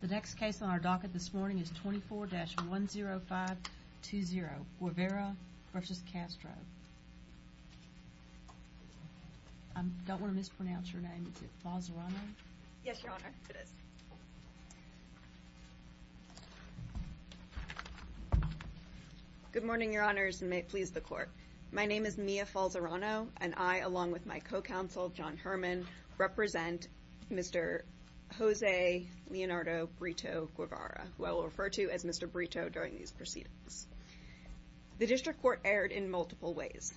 The next case on our docket this morning is 24-10520, Guevara v. Castro. I don't want to mispronounce your name, is it Falzerano? Yes, Your Honor, it is. Good morning, Your Honors, and may it please the Court. My name is Mia Falzerano, and I, along with my co-counsel, John Herman, represent Mr. Jose Leonardo Brito Guevara, who I will refer to as Mr. Brito during these proceedings. The District Court erred in multiple ways.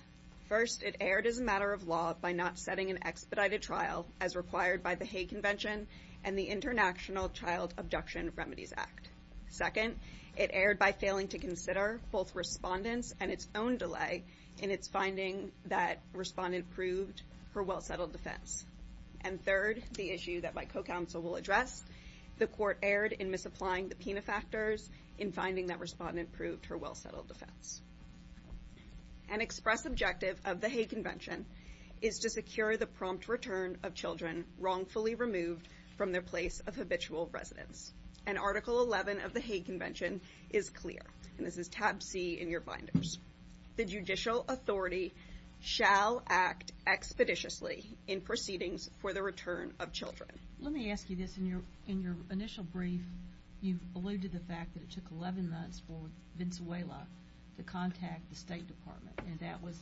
First, it erred as a matter of law by not setting an expedited trial, as required by the Hague Convention and the International Child Abduction Remedies Act. Second, it erred by failing to consider both respondents and its own delay in its finding that respondent proved her well-settled defense. And third, the issue that my co-counsel will address, the Court erred in misapplying the PINA factors in finding that respondent proved her well-settled defense. An express objective of the Hague Convention is to secure the prompt return of children wrongfully removed from their place of habitual residence. And Article 11 of the Hague Convention is clear, and this is tab C in your binders. The judicial authority shall act expeditiously in proceedings for the return of children. Let me ask you this. In your initial brief, you alluded to the fact that it took 11 months for Venezuela to contact the State Department, and that was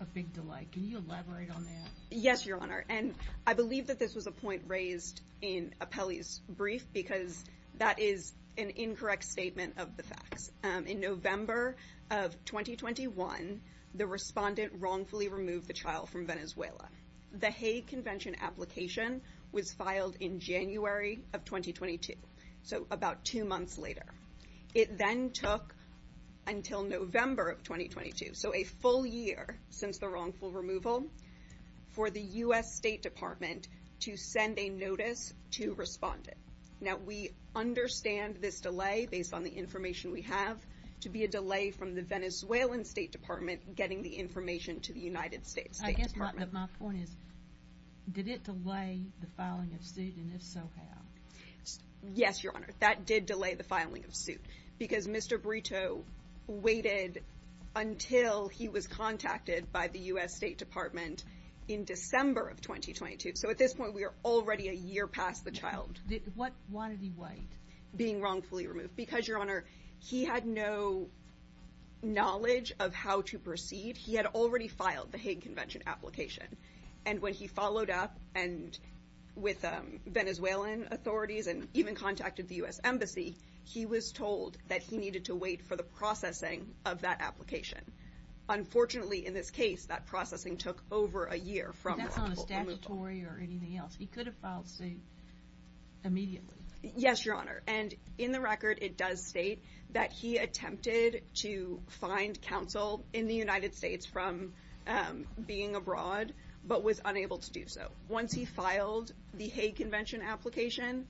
a big delay. Can you elaborate on that? Yes, Your Honor. And I believe that this was a point raised in Apelli's brief because that is an incorrect statement of the facts. In November of 2021, the respondent wrongfully removed the child from Venezuela. The Hague Convention application was filed in January of 2022, so about two months later. It then took until November of 2022, so a full year since the wrongful removal, for the U.S. State Department to send a notice to respondent. Now, we understand this delay, based on the information we have, to be a delay from the Venezuelan State Department getting the information to the United States State Department. I guess my point is, did it delay the filing of suit, and if so, how? Yes, Your Honor. That did delay the filing of suit because Mr. Brito waited until he was contacted by the U.S. State Department in December of 2022. So at this point, we are already a year past the child. Why did he wait? Being wrongfully removed. Because, Your Honor, he had no knowledge of how to proceed. He had already filed the Hague Convention application. And when he followed up with Venezuelan authorities and even contacted the U.S. Embassy, he was told that he needed to wait for the processing of that application. Unfortunately, in this case, that processing took over a year from wrongful removal. But that's not a statutory or anything else. He could have filed suit immediately. Yes, Your Honor. And in the record, it does state that he attempted to find counsel in the United States from being abroad, but was unable to do so. Once he filed the Hague Convention application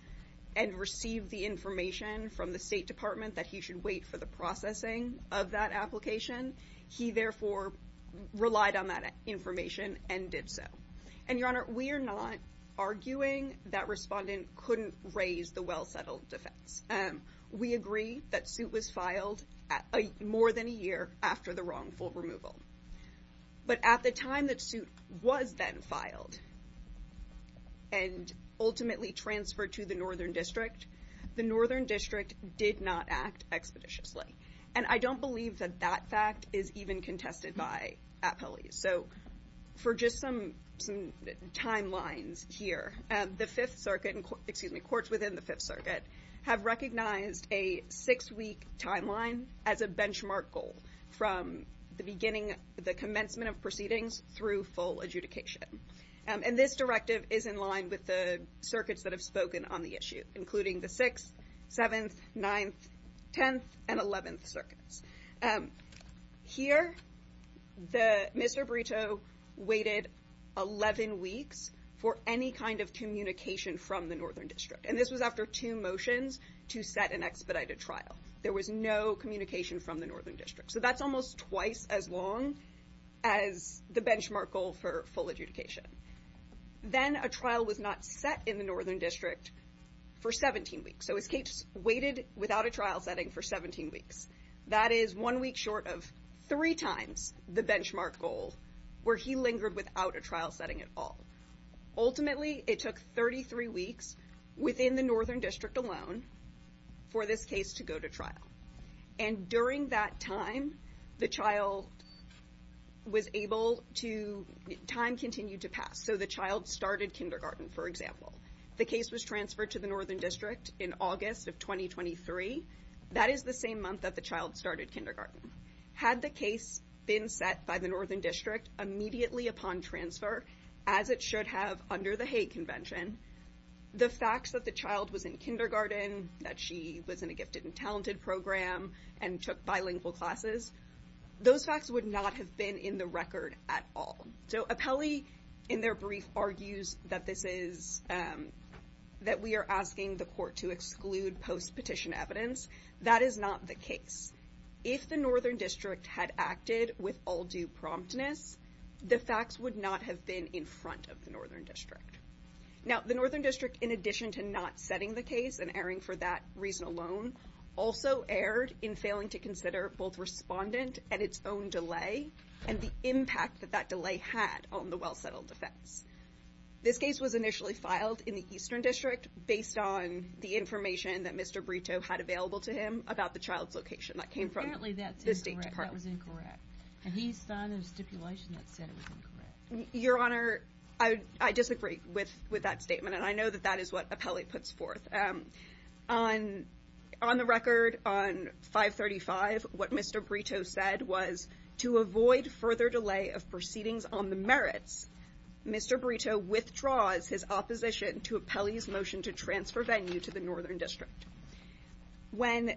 and received the information from the State Department that he should wait for the processing of that application, he therefore relied on that information and did so. And, Your Honor, we are not arguing that Respondent couldn't raise the well-settled defense. We agree that suit was filed more than a year after the wrongful removal. But at the time that suit was then filed and ultimately transferred to the Northern District, the Northern District did not act expeditiously. And I don't believe that that fact is even contested by appellees. So for just some timelines here, the Fifth Circuit, excuse me, courts within the Fifth Circuit, have recognized a six-week timeline as a benchmark goal from the beginning, the commencement of proceedings through full adjudication. And this directive is in line with the circuits that have spoken on the issue, including the Sixth, Seventh, Ninth, Tenth, and Eleventh Circuits. Here, Mr. Brito waited 11 weeks for any kind of communication from the Northern District. And this was after two motions to set an expedited trial. There was no communication from the Northern District. So that's almost twice as long as the benchmark goal for full adjudication. Then a trial was not set in the Northern District for 17 weeks. So his case waited without a trial setting for 17 weeks. That is one week short of three times the benchmark goal where he lingered without a trial setting at all. Ultimately, it took 33 weeks within the Northern District alone for this case to go to trial. And during that time, the child was able to – time continued to pass. So the child started kindergarten, for example. The case was transferred to the Northern District in August of 2023. That is the same month that the child started kindergarten. Had the case been set by the Northern District immediately upon transfer, as it should have under the Hague Convention, the facts that the child was in kindergarten, that she was in a gifted and talented program and took bilingual classes, those facts would not have been in the record at all. So Apelli, in their brief, argues that this is – that we are asking the court to exclude post-petition evidence. That is not the case. If the Northern District had acted with all due promptness, the facts would not have been in front of the Northern District. Now, the Northern District, in addition to not setting the case and erring for that reason alone, also erred in failing to consider both respondent and its own delay and the impact that that delay had on the well-settled defense. This case was initially filed in the Eastern District based on the information that Mr. Brito had available to him about the child's location. That came from the State Department. Apparently that's incorrect. That was incorrect. And he signed a stipulation that said it was incorrect. Your Honor, I disagree with that statement, and I know that that is what Apelli puts forth. On the record, on 535, what Mr. Brito said was, to avoid further delay of proceedings on the merits, Mr. Brito withdraws his opposition to Apelli's motion to transfer Venue to the Northern District. When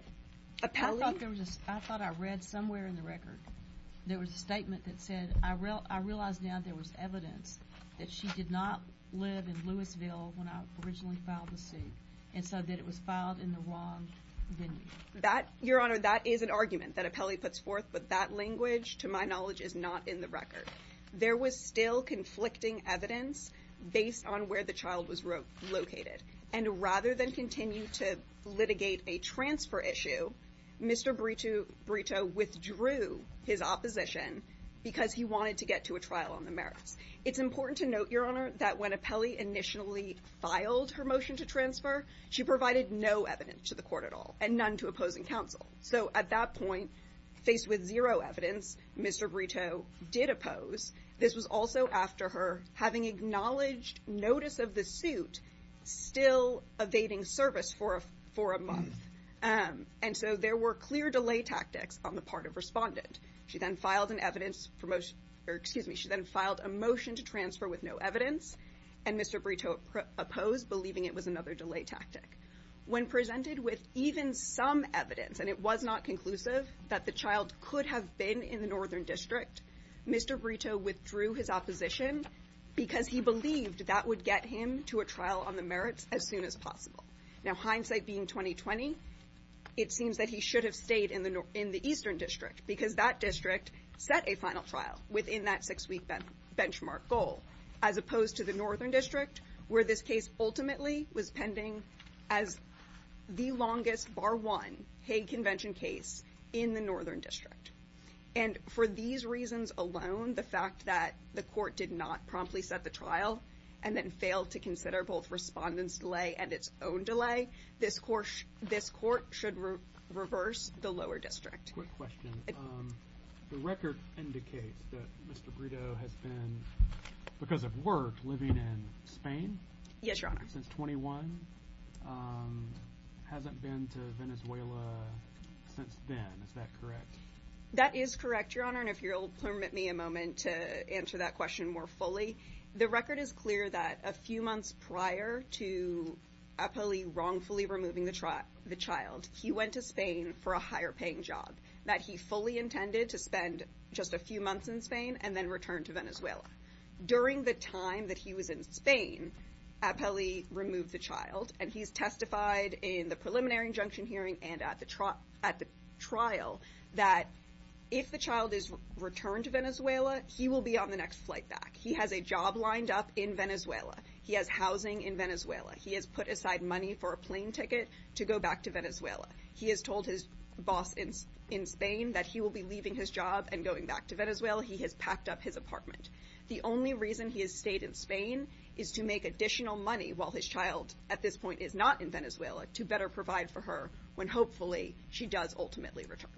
Apelli – I thought there was a – I thought I read somewhere in the record, there was a statement that said, I realize now there was evidence that she did not live in Louisville when I originally filed the suit, and so that it was filed in the wrong venue. Your Honor, that is an argument that Apelli puts forth, but that language, to my knowledge, is not in the record. There was still conflicting evidence based on where the child was located. And rather than continue to litigate a transfer issue, Mr. Brito withdrew his opposition because he wanted to get to a trial on the merits. It's important to note, Your Honor, that when Apelli initially filed her motion to transfer, she provided no evidence to the Court at all, and none to opposing counsel. So at that point, faced with zero evidence, Mr. Brito did oppose. This was also after her having acknowledged notice of the suit still evading service for a month. And so there were clear delay tactics on the part of respondent. She then filed an evidence – or, excuse me, she then filed a motion to transfer with no evidence, and Mr. Brito opposed, believing it was another delay tactic. When presented with even some evidence, and it was not conclusive, that the child could have been in the Northern District, Mr. Brito withdrew his opposition because he believed that would get him to a trial on the merits as soon as possible. Now, hindsight being 20-20, it seems that he should have stayed in the Eastern District because that district set a final trial within that six-week benchmark goal, as opposed to the Northern District, where this case ultimately was pending as the longest bar one Hague Convention case in the Northern District. And for these reasons alone, the fact that the Court did not promptly set the trial and then failed to consider both respondent's delay and its own delay, this Court should reverse the Lower District. Quick question. The record indicates that Mr. Brito has been, because of work, living in Spain. Yes, Your Honor. Since 21, hasn't been to Venezuela since then. Is that correct? That is correct, Your Honor, and if you'll permit me a moment to answer that question more fully. The record is clear that a few months prior to Apelli wrongfully removing the child, he went to Spain for a higher-paying job that he fully intended to spend just a few months in Spain and then return to Venezuela. During the time that he was in Spain, Apelli removed the child, and he's testified in the preliminary injunction hearing and at the trial that if the child is returned to Venezuela, he will be on the next flight back. He has a job lined up in Venezuela. He has housing in Venezuela. He has put aside money for a plane ticket to go back to Venezuela. He has told his boss in Spain that he will be leaving his job and going back to Venezuela. He has packed up his apartment. The only reason he has stayed in Spain is to make additional money while his child at this point is not in Venezuela to better provide for her when hopefully she does ultimately return.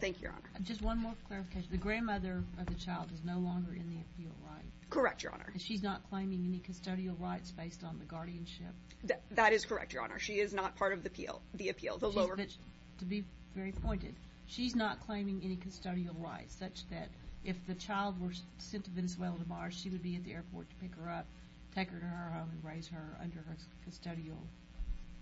Thank you, Your Honor. Just one more clarification. The grandmother of the child is no longer in the appeal right? Correct, Your Honor. She's not claiming any custodial rights based on the guardianship? That is correct, Your Honor. She is not part of the appeal. To be very pointed, she's not claiming any custodial rights such that if the child were sent to Venezuela tomorrow, she would be at the airport to pick her up, take her to her home, and raise her under her custodial?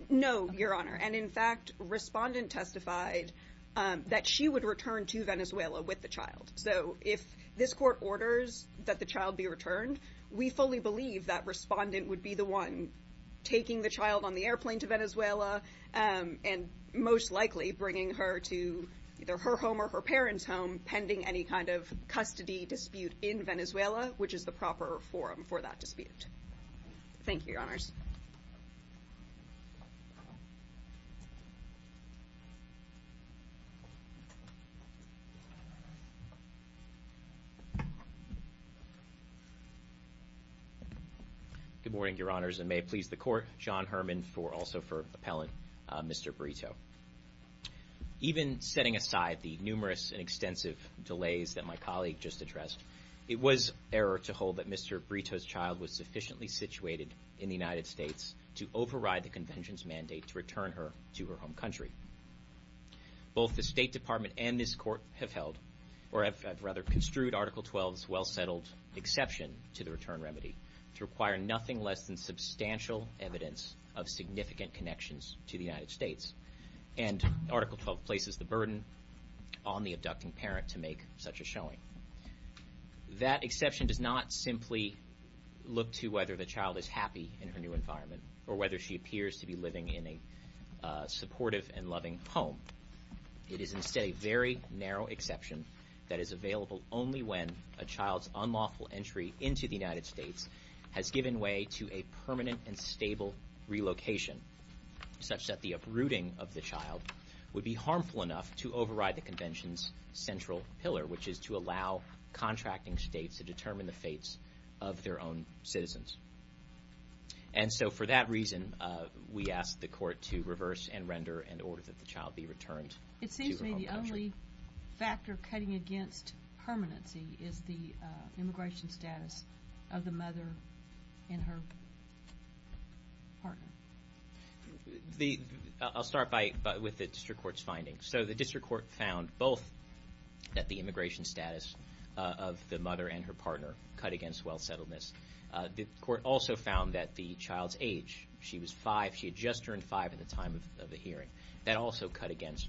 No, Your Honor. And in fact, Respondent testified that she would return to Venezuela with the child. So if this court orders that the child be returned, we fully believe that Respondent would be the one taking the child on the airplane to Venezuela and most likely bringing her to either her home or her parents' home pending any kind of custody dispute in Venezuela which is the proper forum for that dispute. Thank you, Your Honors. Good morning, Your Honors. And may it please the Court, John Herman also for appellant, Mr. Brito. Even setting aside the numerous and extensive delays that my colleague just addressed, it was error to hold that Mr. Brito's child was sufficiently situated in the United States to override the Convention's mandate to return her to her home country. Both the State Department and this Court have held, or have rather construed Article 12's well-settled exception to the return remedy to require nothing less than substantial evidence of significant connections to the United States. And Article 12 places the burden on the abducting parent to make such a showing. That exception does not simply look to whether the child is happy in her new environment or whether she appears to be living in a supportive and loving home. It is instead a very narrow exception that is available only when a child's unlawful entry into the United States has given way to a permanent and stable relocation such that the uprooting of the child would be harmful enough to override the Convention's central pillar which is to allow contracting states to determine the fates of their own citizens. And so for that reason, we asked the Court to reverse and render an order that the child be returned to her home country. It seems to me the only factor cutting against permanency is the immigration status of the mother and her partner. I'll start with the District Court's findings. So the District Court found both that the immigration status of the mother and her partner cut against well-settledness. The Court also found that the child's age, she was five, she had just turned five at the time of the hearing. That also cut against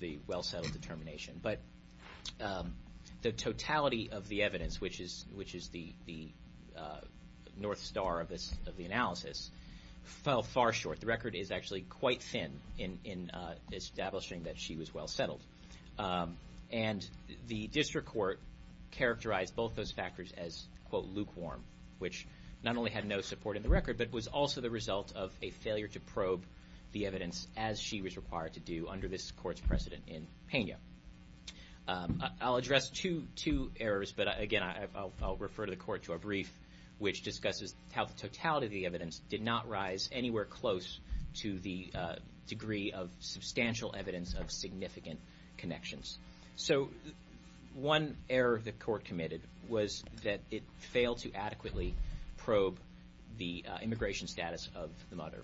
the well-settled determination. But the totality of the evidence, which is the north star of the analysis, fell far short. The record is actually quite thin in establishing that she was well-settled. And the District Court characterized both those factors as, quote, lukewarm, which not only had no support in the record, but was also the result of a failure to probe the evidence as she was required to do under this Court's precedent in Peña. I'll address two errors, but, again, I'll refer the Court to a brief which discusses how the totality of the evidence did not rise anywhere close to the degree of substantial evidence of significant connections. So one error the Court committed was that it failed to adequately probe the immigration status of the mother.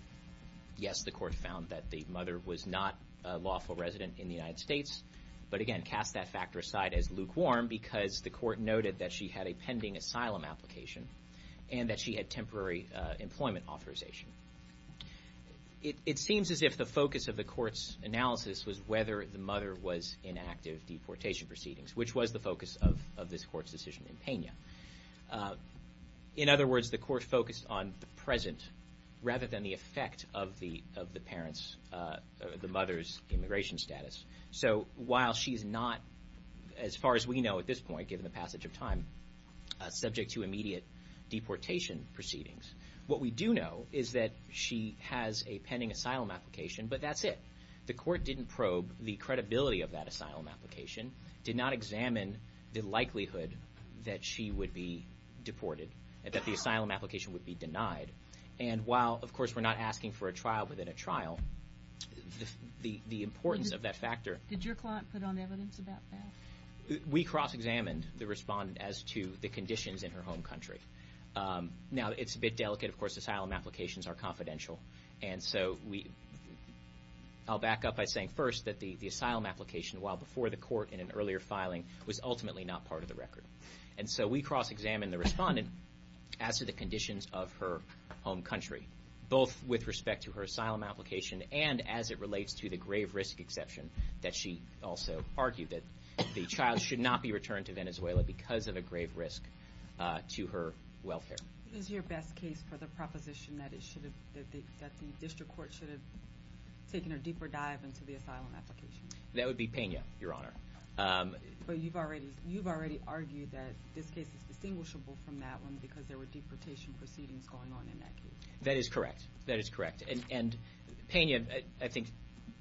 Yes, the Court found that the mother was not a lawful resident in the United States, but, again, cast that factor aside as lukewarm because the Court noted that she had a pending asylum application and that she had temporary employment authorization. It seems as if the focus of the Court's analysis was whether the mother was in active deportation proceedings, which was the focus of this Court's decision in Peña. In other words, the Court focused on the present rather than the effect of the mother's immigration status. So while she's not, as far as we know at this point, given the passage of time, subject to immediate deportation proceedings, what we do know is that she has a pending asylum application, but that's it. The Court didn't probe the credibility of that asylum application, did not examine the likelihood that she would be deported and that the asylum application would be denied. And while, of course, we're not asking for a trial within a trial, the importance of that factor... Did your client put on evidence about that? We cross-examined the respondent as to the conditions in her home country. Now, it's a bit delicate. Of course, asylum applications are confidential. And so I'll back up by saying first that the asylum application, while before the Court in an earlier filing, was ultimately not part of the record. And so we cross-examined the respondent as to the conditions of her home country, both with respect to her asylum application and as it relates to the grave risk exception that she also argued that the child should not be returned to Venezuela because of a grave risk to her welfare. Is your best case for the proposition that the District Court should have taken a deeper dive into the asylum application? That would be Pena, Your Honor. But you've already argued that this case is distinguishable from that one because there were deportation proceedings going on in that case. That is correct. That is correct. And Pena, I think,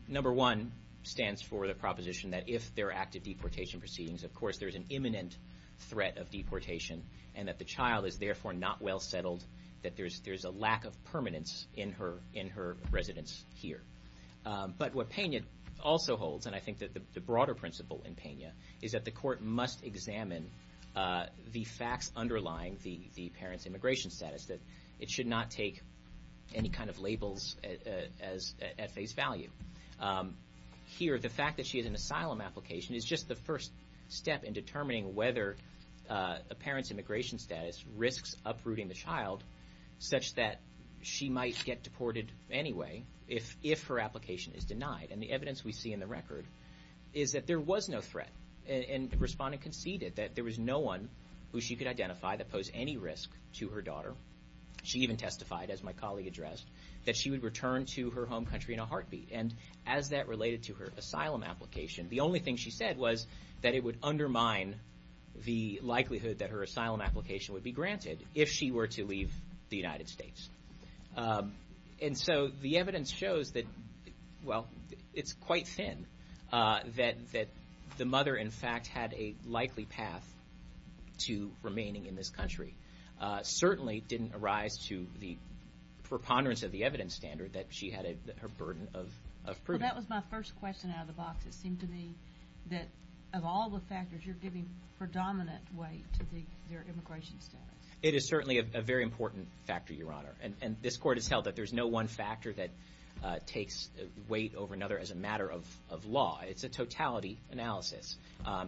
number one, stands for the proposition that if there are active deportation proceedings, of course there's an imminent threat of deportation and that the child is therefore not well settled, that there's a lack of permanence in her residence here. But what Pena also holds, and I think that the broader principle in Pena, is that the Court must examine the facts underlying the parent's immigration status, that it should not take any kind of labels at face value. Here, the fact that she has an asylum application is just the first step in determining whether a parent's immigration status risks uprooting the child such that she might get deported anyway if her application is denied. And the evidence we see in the record is that there was no threat. And the respondent conceded that there was no one who she could identify that posed any risk to her daughter. She even testified, as my colleague addressed, that she would return to her home country in a heartbeat. And as that related to her asylum application, the only thing she said was that it would undermine the likelihood that her asylum application would be granted if she were to leave the United States. And so the evidence shows that, well, it's quite thin, that the mother, in fact, had a likely path to remaining in this country. It certainly didn't arise to the preponderance of the evidence standard that she had her burden of proving. Well, that was my first question out of the box. It seemed to me that, of all the factors, you're giving predominant weight to their immigration status. It is certainly a very important factor, Your Honor. And this court has held that there's no one factor that takes weight over another as a matter of law. It's a totality analysis.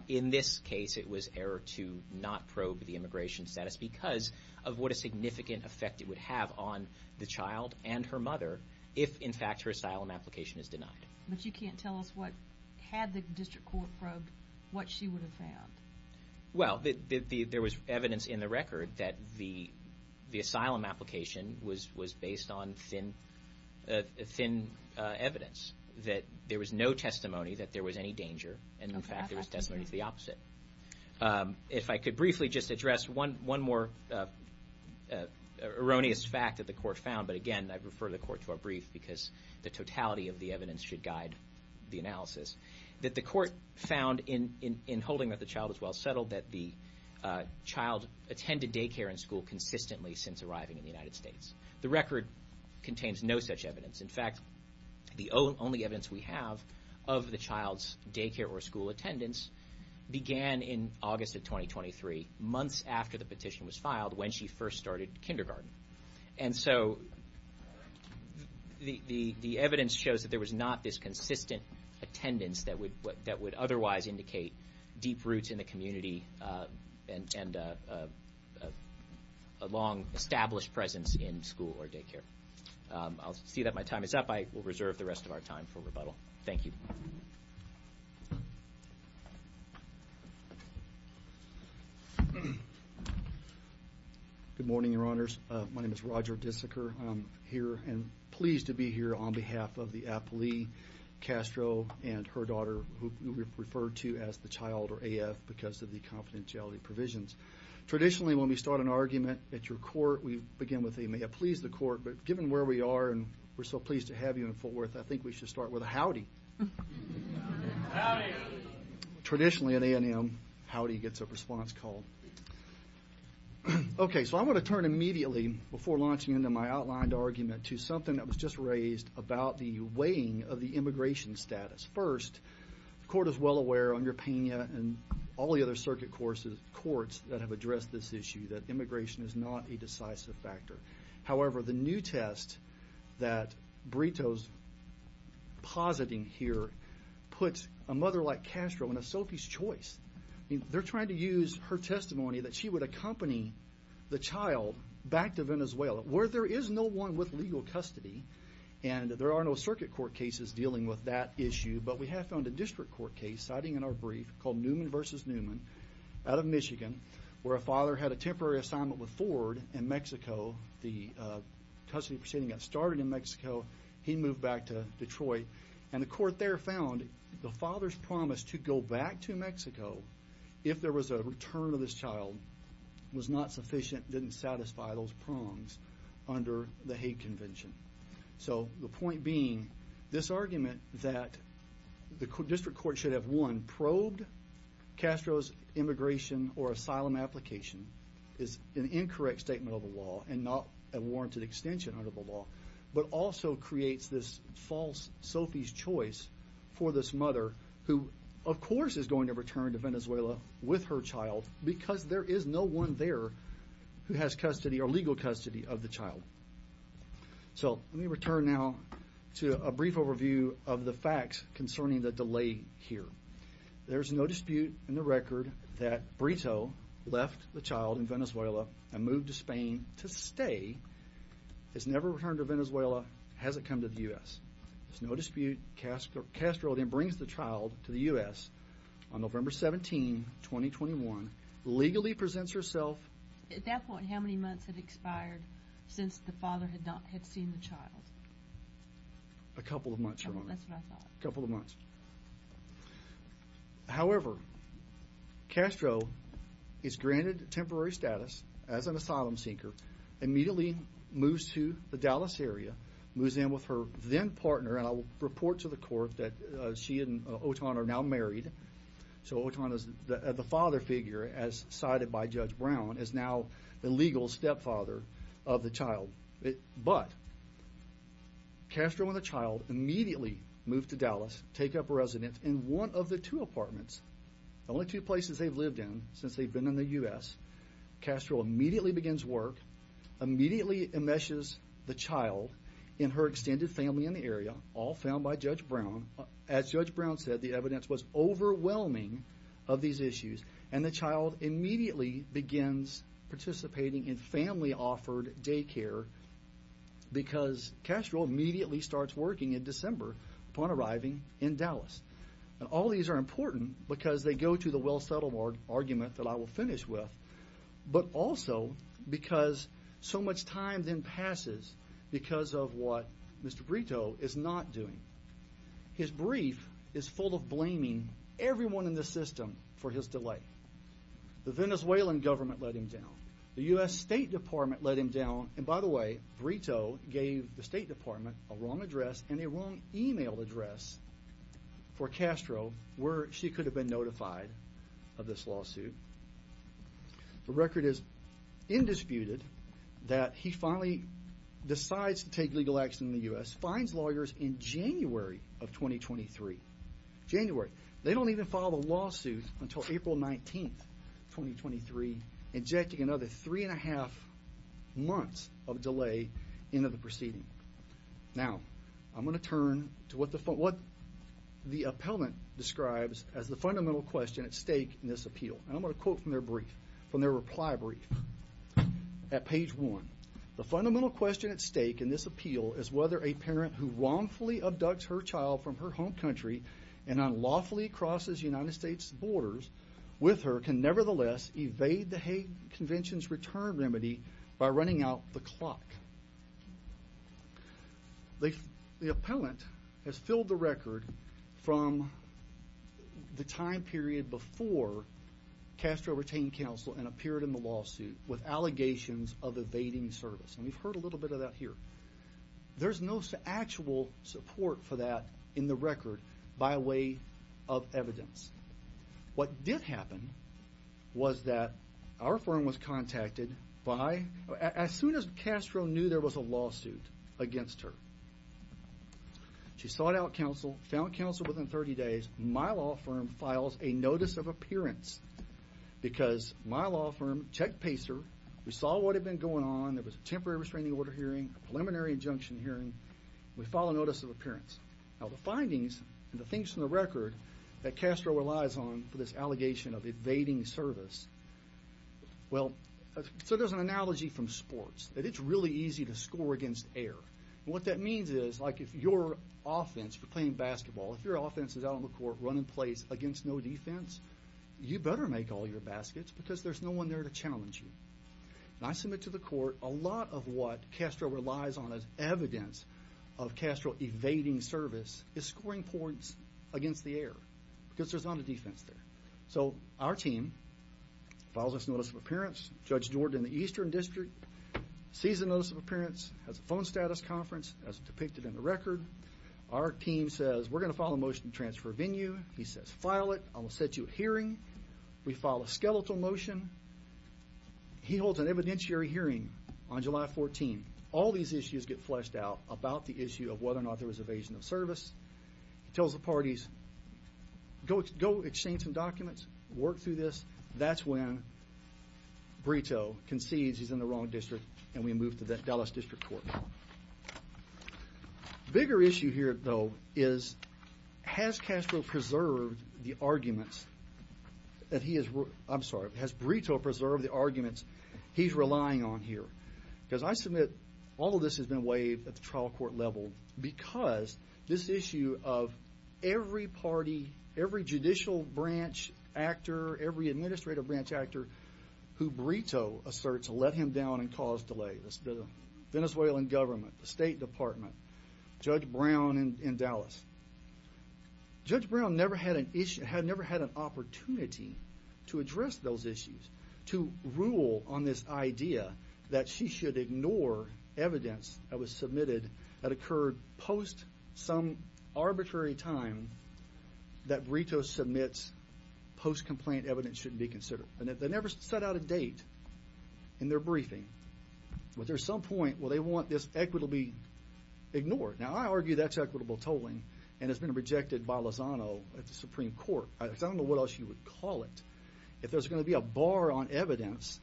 In this case, it was error to not probe the immigration status because of what a significant effect it would have on the child and her mother if, in fact, her asylum application is denied. But you can't tell us what, had the district court probed, what she would have found. Well, there was evidence in the record that the asylum application was based on thin evidence, that there was no testimony that there was any danger, and, in fact, there was testimony to the opposite. If I could briefly just address one more erroneous fact that the court found, but, again, I refer the court to a brief because the totality of the evidence should guide the analysis, that the court found in holding that the child was well settled that the child attended daycare and school consistently since arriving in the United States. The record contains no such evidence. In fact, the only evidence we have of the child's daycare or school attendance began in August of 2023, months after the petition was filed, when she first started kindergarten. And so the evidence shows that there was not this consistent attendance that would otherwise indicate deep roots in the community and a long established presence in school or daycare. I'll see that my time is up. I will reserve the rest of our time for rebuttal. Thank you. Good morning, Your Honors. My name is Roger Disiker. I'm here and pleased to be here on behalf of the appellee, Castro, and her daughter who we've referred to as the child or AF because of the confidentiality provisions. Traditionally, when we start an argument at your court, we begin with, but given where we are and we're so pleased to have you in Fort Worth, I think we should start with a howdy. Traditionally, at A&M, howdy gets a response call. Okay, so I'm going to turn immediately, before launching into my outlined argument, to something that was just raised about the weighing of the immigration status. First, the court is well aware, under Pena and all the other circuit courts that have addressed this issue, that immigration is not a decisive factor. However, the new test that Brito's positing here puts a mother like Castro in a Sophie's choice. They're trying to use her testimony that she would accompany the child back to Venezuela, where there is no one with legal custody, and there are no circuit court cases dealing with that issue, but we have found a district court case, citing in our brief, called Newman v. Newman, out of Michigan, where a father had a temporary assignment with Ford in Mexico. The custody proceeding got started in Mexico. He moved back to Detroit, and the court there found the father's promise to go back to Mexico if there was a return of this child was not sufficient, didn't satisfy those prongs under the Hague Convention. So the point being, this argument that the district court should have, one, probed Castro's immigration or asylum application, is an incorrect statement of the law and not a warranted extension under the law, but also creates this false Sophie's choice for this mother, who of course is going to return to Venezuela with her child, because there is no one there who has custody or legal custody of the child. So let me return now to a brief overview of the facts concerning the delay here. There is no dispute in the record that Brito left the child in Venezuela and moved to Spain to stay. It's never returned to Venezuela, hasn't come to the U.S. There's no dispute Castro then brings the child to the U.S. on November 17, 2021, legally presents herself. At that point, how many months had expired since the father had seen the child? A couple of months, Your Honor. That's what I thought. A couple of months. However, Castro is granted temporary status as an asylum seeker, immediately moves to the Dallas area, moves in with her then partner, and I'll report to the court that she and Oton are now married. So Oton, the father figure, as cited by Judge Brown, is now the legal stepfather of the child. But Castro and the child immediately move to Dallas, take up residence in one of the two apartments, the only two places they've lived in since they've been in the U.S. Castro immediately begins work, immediately enmeshes the child in her extended family in the area, all found by Judge Brown. As Judge Brown said, the evidence was overwhelming of these issues, and the child immediately begins participating in family-offered daycare because Castro immediately starts working in December upon arriving in Dallas. All these are important because they go to the well-settled argument that I will finish with, but also because so much time then passes because of what Mr. Brito is not doing. His brief is full of blaming everyone in the system for his delay. The Venezuelan government let him down. The U.S. State Department let him down. And by the way, Brito gave the State Department a wrong address and a wrong email address for Castro where she could have been notified of this lawsuit. The record is indisputed that he finally decides to take legal action in the U.S., finds lawyers in January of 2023. January. They don't even file a lawsuit until April 19, 2023, injecting another three-and-a-half months of delay into the proceeding. Now, I'm going to turn to what the appellant describes as the fundamental question at stake in this appeal, and I'm going to quote from their reply brief at page one. The fundamental question at stake in this appeal is whether a parent who wrongfully abducts her child from her home country and unlawfully crosses United States borders with her can nevertheless evade the Hague Convention's return remedy by running out the clock. The appellant has filled the record from the time period before Castro retained counsel and appeared in the lawsuit with allegations of evading service, and we've heard a little bit of that here. There's no actual support for that in the record by way of evidence. What did happen was that our firm was contacted by, as soon as Castro knew there was a lawsuit against her, she sought out counsel, found counsel within 30 days. My law firm files a notice of appearance because my law firm check-paced her. We saw what had been going on. There was a temporary restraining order hearing, a preliminary injunction hearing. We file a notice of appearance. Now, the findings and the things from the record that Castro relies on for this allegation of evading service, well, so there's an analogy from sports that it's really easy to score against air. What that means is, like, if your offense for playing basketball, if your offense is out on the court running plays against no defense, you better make all your baskets because there's no one there to challenge you. And I submit to the court a lot of what Castro relies on as evidence of Castro evading service is scoring points against the air because there's not a defense there. So our team files this notice of appearance. Judge Jordan in the Eastern District sees the notice of appearance, has a phone status conference as depicted in the record. Our team says, we're going to file a motion to transfer venue. He says, file it. I will set you a hearing. We file a skeletal motion. He holds an evidentiary hearing on July 14. All these issues get fleshed out about the issue of whether or not there was evasion of service. He tells the parties, go exchange some documents, work through this. That's when Brito concedes he's in the wrong district and we move to the Dallas District Court. Bigger issue here, though, is has Castro preserved the arguments that he has, I'm sorry, has Brito preserved the arguments he's relying on here? Because I submit all of this has been waived at the trial court level because this issue of every party, every judicial branch actor, every administrative branch actor who Brito asserts will let him down and cause delay. The Venezuelan government, the State Department, Judge Brown in Dallas. Judge Brown never had an opportunity to address those issues, to rule on this idea that she should ignore evidence that was submitted that occurred post some arbitrary time that Brito submits post-complaint evidence shouldn't be considered. They never set out a date in their briefing. But there's some point where they want this equity to be ignored. Now, I argue that's equitable tolling and it's been rejected by Lozano at the Supreme Court. I don't know what else you would call it. If there's going to be a bar on evidence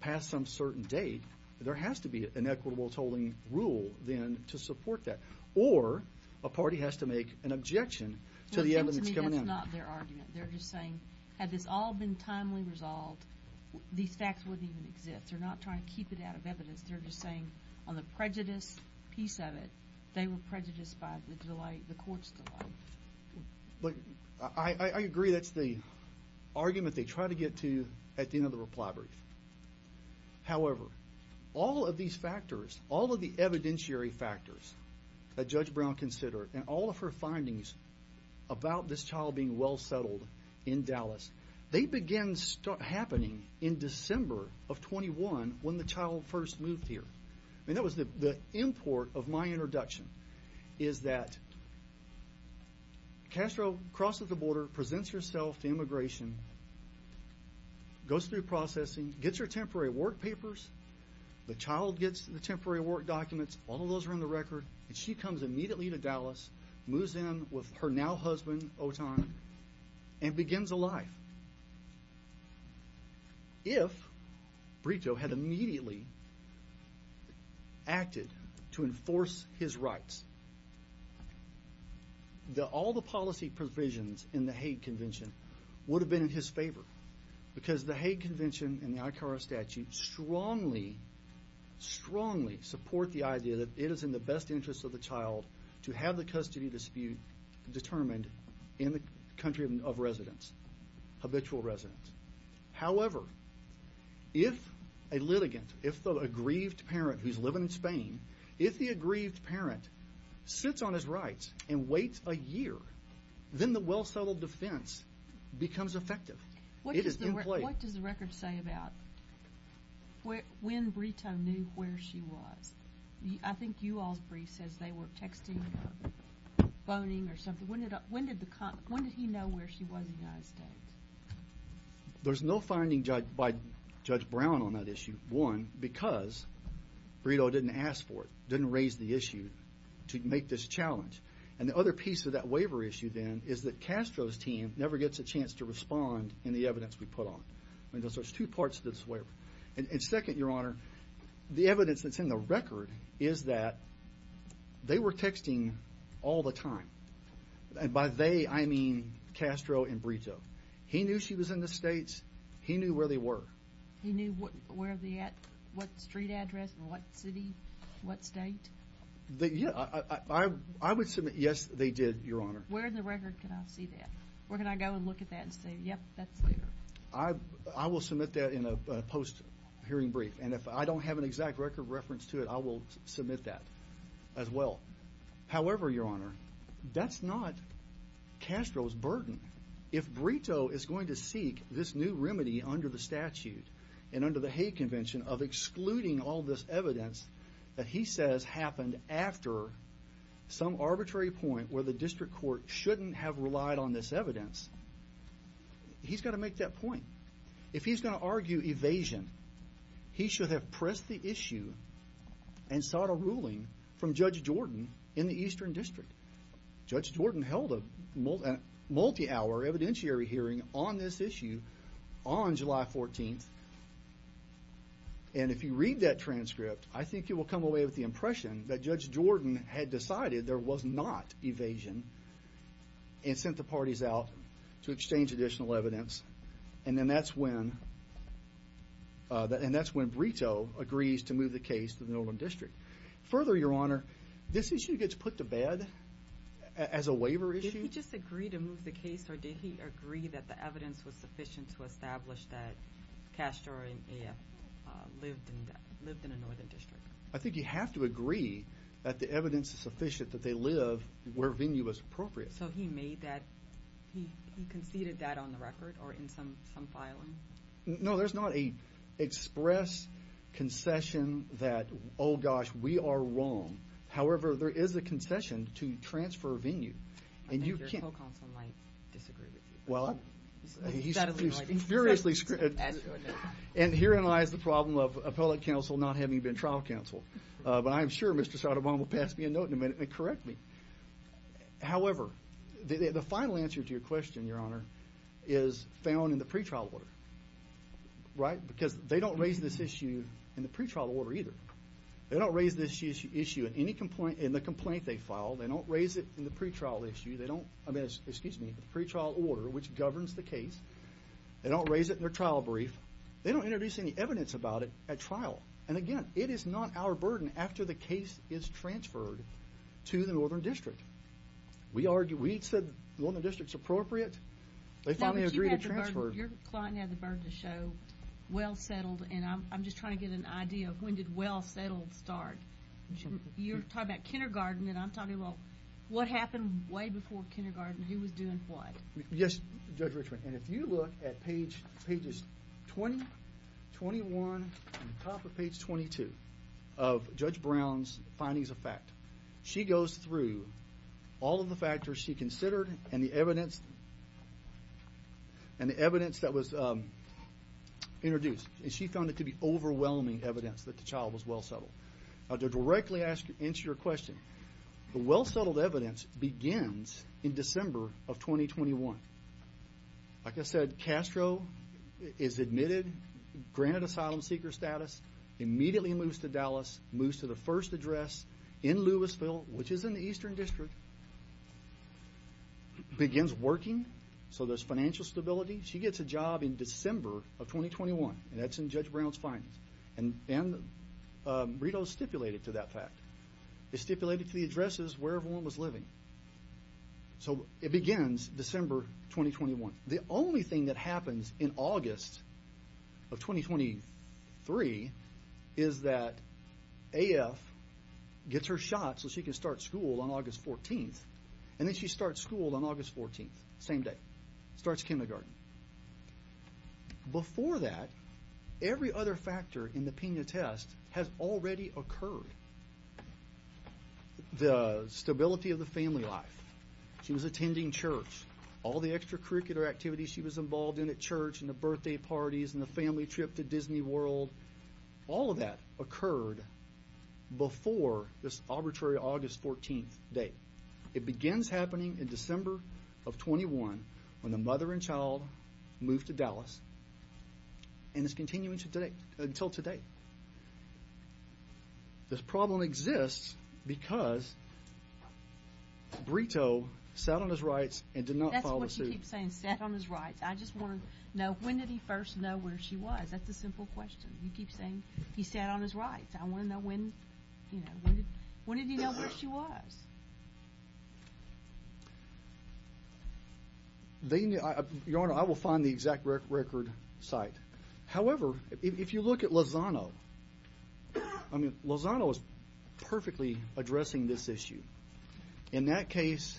past some certain date, there has to be an equitable tolling rule then to support that. Or a party has to make an objection to the evidence coming in. That's not their argument. They're just saying had this all been timely resolved, these facts wouldn't even exist. They're not trying to keep it out of evidence. They're just saying on the prejudice piece of it, they were prejudiced by the delay, the court's delay. I agree that's the argument they try to get to at the end of the reply brief. However, all of these factors, all of the evidentiary factors that Judge Brown considered and all of her findings about this child being well settled in Dallas, they began happening in December of 21 when the child first moved here. And that was the import of my introduction is that Castro crosses the border, presents herself to immigration, goes through processing, gets her temporary work papers. The child gets the temporary work documents. All of those are on the record. And she comes immediately to Dallas, moves in with her now husband, Oton, and begins a life. If Brito had immediately acted to enforce his rights, all the policy provisions in the Hague Convention would have been in his favor because the Hague Convention and the ICARA statute strongly, strongly support the idea that it is in the best interest of the child to have the custody dispute determined in the country of residence, habitual residence. However, if a litigant, if the aggrieved parent who's living in Spain, if the aggrieved parent sits on his rights and waits a year, then the well settled defense becomes effective. It is in play. What does the record say about when Brito knew where she was? I think you all's brief says they were texting or phoning or something. When did he know where she was in the United States? There's no finding by Judge Brown on that issue. One, because Brito didn't ask for it, didn't raise the issue to make this challenge. And the other piece of that waiver issue, then, is that Castro's team never gets a chance to respond in the evidence we put on. So there's two parts to this waiver. And second, Your Honor, the evidence that's in the record is that they were texting all the time. And by they, I mean Castro and Brito. He knew she was in the States. He knew where they were. He knew what street address and what city, what state? Yeah, I would submit, yes, they did, Your Honor. Where in the record can I see that? Where can I go and look at that and say, yep, that's there? I will submit that in a post-hearing brief. And if I don't have an exact record reference to it, I will submit that as well. However, Your Honor, that's not Castro's burden. If Brito is going to seek this new remedy under the statute and under the Hague Convention of excluding all this evidence that he says happened after some arbitrary point where the district court shouldn't have relied on this evidence, he's got to make that point. If he's going to argue evasion, he should have pressed the issue and sought a ruling from Judge Jordan in the Eastern District. Judge Jordan held a multi-hour evidentiary hearing on this issue on July 14th. And if you read that transcript, I think you will come away with the impression that Judge Jordan had decided there was not evasion and sent the parties out to exchange additional evidence. And that's when Brito agrees to move the case to the Northern District. Further, Your Honor, this issue gets put to bed as a waiver issue. Did he just agree to move the case, or did he agree that the evidence was sufficient to establish that Castro and EF lived in a Northern District? I think you have to agree that the evidence is sufficient that they live where venue is appropriate. So he made that, he conceded that on the record or in some filing? No, there's not an express concession that, oh, gosh, we are wrong. However, there is a concession to transfer venue. I think your co-counsel might disagree with you. Well, he's furiously screaming. And herein lies the problem of appellate counsel not having been trial counsel. But I'm sure Mr. Sotomayor will pass me a note in a minute and correct me. However, the final answer to your question, Your Honor, is found in the pretrial order, right? Because they don't raise this issue in the pretrial order either. They don't raise this issue in the complaint they filed. They don't raise it in the pretrial issue. I mean, excuse me, the pretrial order, which governs the case. They don't raise it in their trial brief. They don't introduce any evidence about it at trial. And, again, it is not our burden after the case is transferred to the Northern District. We said the Northern District's appropriate. They finally agreed to transfer. Your client had the burden to show well settled. And I'm just trying to get an idea of when did well settled start? You're talking about kindergarten, and I'm talking about what happened way before kindergarten. Who was doing what? Yes, Judge Richmond. And if you look at pages 20, 21, and the top of page 22 of Judge Brown's findings of fact, she goes through all of the factors she considered and the evidence that was introduced. And she found it to be overwhelming evidence that the child was well settled. To directly answer your question, the well settled evidence begins in December of 2021. Like I said, Castro is admitted, granted asylum seeker status, immediately moves to Dallas, moves to the first address in Louisville, which is in the Eastern District, begins working so there's financial stability. She gets a job in December of 2021, and that's in Judge Brown's findings. And Rito stipulated to that fact. It stipulated to the addresses where everyone was living. So it begins December 2021. The only thing that happens in August of 2023 is that AF gets her shot so she can start school on August 14th. And then she starts school on August 14th, same day, starts kindergarten. Before that, every other factor in the Pena test has already occurred. The stability of the family life. She was attending church. All the extracurricular activities she was involved in at church and the birthday parties and the family trip to Disney World. All of that occurred before this arbitrary August 14th date. It begins happening in December of 21 when the mother and child moved to Dallas. And it's continuing today until today. This problem exists because Rito sat on his rights and did not follow suit. That's what you keep saying, sat on his rights. I just want to know, when did he first know where she was? That's a simple question. You keep saying he sat on his rights. I want to know when, you know, when did he know where she was? Your Honor, I will find the exact record site. However, if you look at Lozano, I mean, Lozano is perfectly addressing this issue. In that case,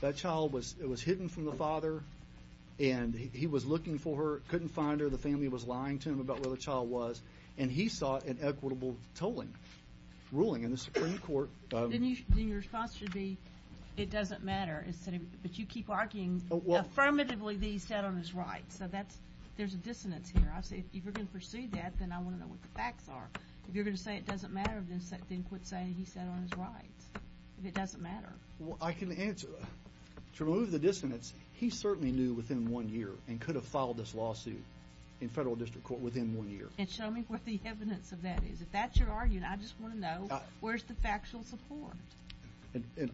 that child was hidden from the father, and he was looking for her, couldn't find her. The family was lying to him about where the child was, and he sought an equitable ruling in the Supreme Court. Then your response should be, it doesn't matter. But you keep arguing affirmatively that he sat on his rights. So there's a dissonance here. If you're going to pursue that, then I want to know what the facts are. If you're going to say it doesn't matter, then quit saying he sat on his rights, if it doesn't matter. Well, I can answer. To remove the dissonance, he certainly knew within one year and could have filed this lawsuit in federal district court within one year. And show me what the evidence of that is. If that's your argument, I just want to know where's the factual support.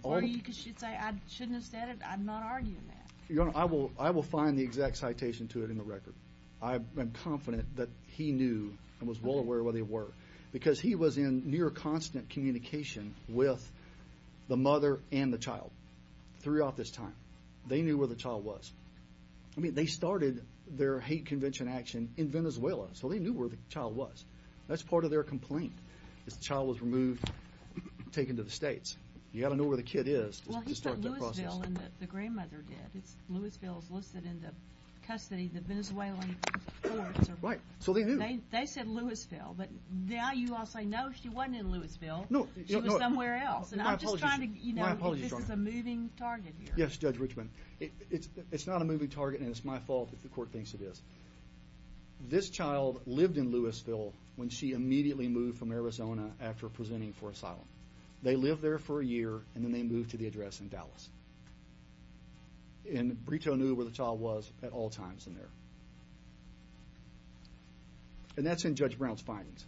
Or you could say I shouldn't have said it, I'm not arguing that. Your Honor, I will find the exact citation to it in the record. I am confident that he knew and was well aware of where they were. Because he was in near constant communication with the mother and the child throughout this time. They knew where the child was. I mean, they started their hate convention action in Venezuela, so they knew where the child was. That's part of their complaint. This child was removed, taken to the States. You've got to know where the kid is to start that process. It's not Louisville that the grandmother did. Louisville is listed in the custody of the Venezuelan courts. Right, so they knew. They said Louisville, but now you all say, no, she wasn't in Louisville. She was somewhere else. My apologies, Your Honor. This is a moving target here. Yes, Judge Richmond. It's not a moving target, and it's my fault that the court thinks it is. This child lived in Louisville when she immediately moved from Arizona after presenting for asylum. They lived there for a year, and then they moved to the address in Dallas. And Brito knew where the child was at all times in there. And that's in Judge Brown's findings.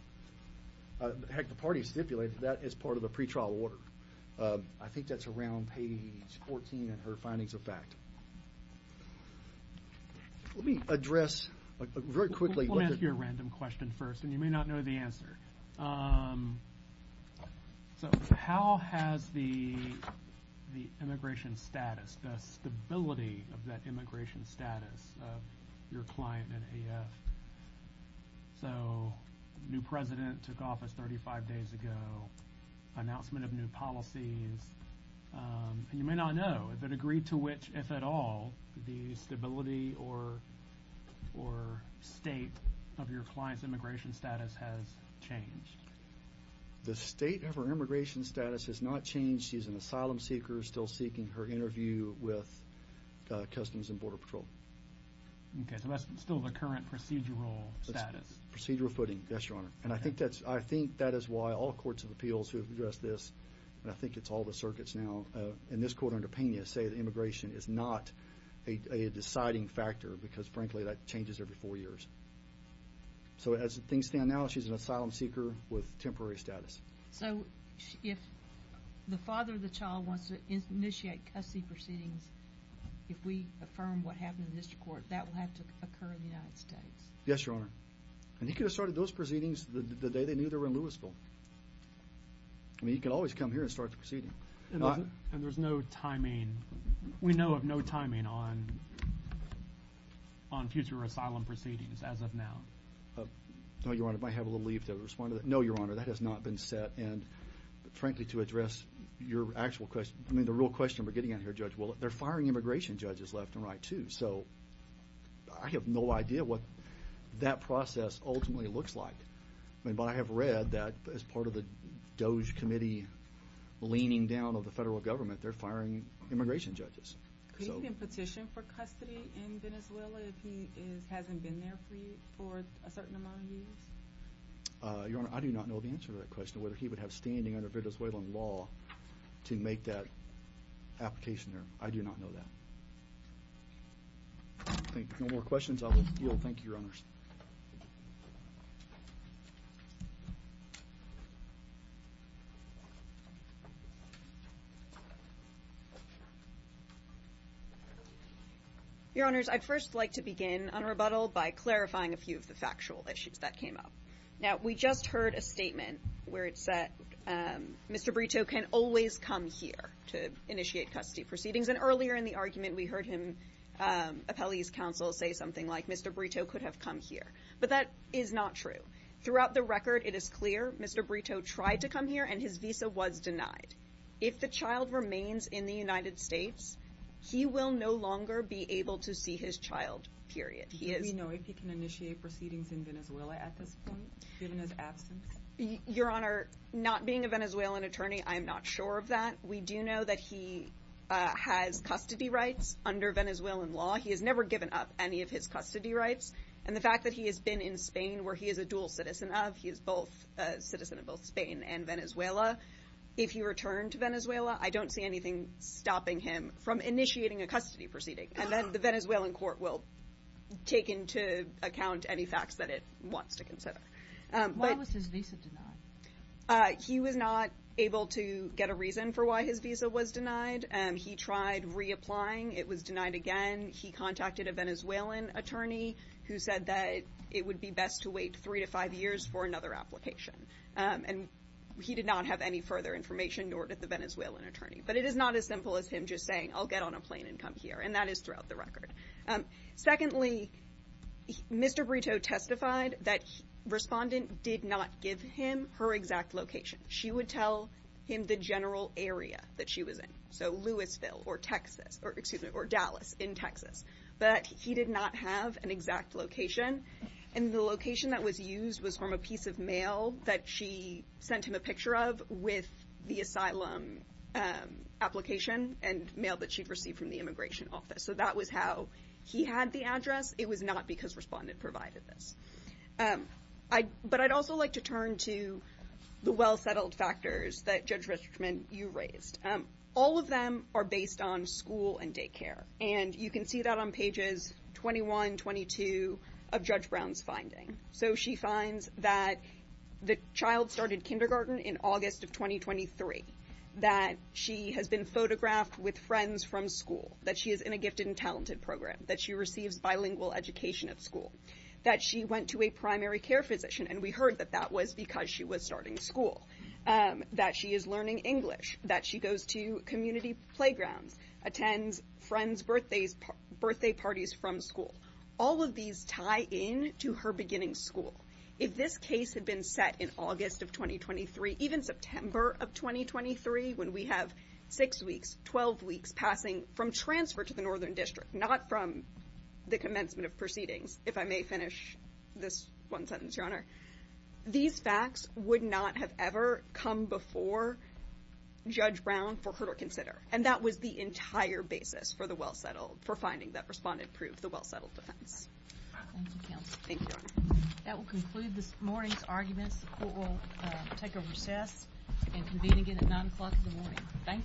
Heck, the parties stipulated that as part of the pretrial order. I think that's around page 14 in her findings of fact. Let me address very quickly. Let me ask you a random question first, and you may not know the answer. So how has the immigration status, the stability of that immigration status of your client in AF? So new president took office 35 days ago, announcement of new policies. And you may not know the degree to which, if at all, the stability or state of your client's immigration status has changed. The state of her immigration status has not changed. She's an asylum seeker still seeking her interview with Customs and Border Patrol. Okay, so that's still the current procedural status. Procedural footing, yes, Your Honor. And I think that is why all courts of appeals who have addressed this, and I think it's all the circuits now, in this court under Pena say that immigration is not a deciding factor because, frankly, that changes every four years. So as things stand now, she's an asylum seeker with temporary status. So if the father of the child wants to initiate custody proceedings, if we affirm what happened in the district court, that will have to occur in the United States. Yes, Your Honor. And he could have started those proceedings the day they knew they were in Louisville. I mean, he could always come here and start the proceedings. And there's no timing. We know of no timing on future asylum proceedings as of now. No, Your Honor. I might have a little leave to respond to that. No, Your Honor, that has not been set. And, frankly, to address your actual question, I mean, the real question we're getting at here, Judge, well, they're firing immigration judges left and right too. So I have no idea what that process ultimately looks like. But I have read that as part of the DOJ committee leaning down on the federal government, they're firing immigration judges. Has he been petitioned for custody in Venezuela if he hasn't been there for a certain amount of years? Your Honor, I do not know the answer to that question, whether he would have standing under Venezuelan law to make that application there. I do not know that. No more questions? I will yield. Thank you, Your Honors. Your Honors, I'd first like to begin on rebuttal by clarifying a few of the factual issues that came up. Now, we just heard a statement where it said Mr. Brito can always come here to initiate custody proceedings. And earlier in the argument, we heard him, appellee's counsel, say something like Mr. Brito could have come here. But that is not true. Throughout the record, it is clear Mr. Brito tried to come here and his visa was denied. If the child remains in the United States, he will no longer be able to see his child, period. Do we know if he can initiate proceedings in Venezuela at this point, given his absence? Your Honor, not being a Venezuelan attorney, I'm not sure of that. We do know that he has custody rights under Venezuelan law. He has never given up any of his custody rights. And the fact that he has been in Spain, where he is a dual citizen of, he is both a citizen of both Spain and Venezuela, if he returned to Venezuela, I don't see anything stopping him from initiating a custody proceeding. And the Venezuelan court will take into account any facts that it wants to consider. Why was his visa denied? He was not able to get a reason for why his visa was denied. He tried reapplying. It was denied again. He contacted a Venezuelan attorney who said that it would be best to wait three to five years for another application. And he did not have any further information, nor did the Venezuelan attorney. But it is not as simple as him just saying, I'll get on a plane and come here. And that is throughout the record. Secondly, Mr. Brito testified that a respondent did not give him her exact location. She would tell him the general area that she was in, so Louisville or Texas, or Dallas in Texas. But he did not have an exact location. And the location that was used was from a piece of mail that she sent him a picture of with the asylum application and mail that she'd received from the immigration office. So that was how he had the address. It was not because respondent provided this. But I'd also like to turn to the well-settled factors that Judge Richman, you raised. All of them are based on school and daycare. And you can see that on pages 21, 22 of Judge Brown's finding. So she finds that the child started kindergarten in August of 2023, that she has been photographed with friends from school, that she is in a gifted and talented program, that she receives bilingual education at school, that she went to a primary care physician, and we heard that that was because she was starting school, that she is learning English, that she goes to community playgrounds, attends friends' birthday parties from school. All of these tie in to her beginning school. If this case had been set in August of 2023, even September of 2023, when we have six weeks, 12 weeks passing from transfer to the Northern District, not from the commencement of proceedings, if I may finish this one sentence, Your Honor, these facts would not have ever come before Judge Brown for her to consider. And that was the entire basis for the well-settled, for finding that respondent proved the well-settled defense. Thank you, counsel. Thank you, Your Honor. That will conclude this morning's arguments. The court will take a recess and convene again at 9 o'clock in the morning. Thank you.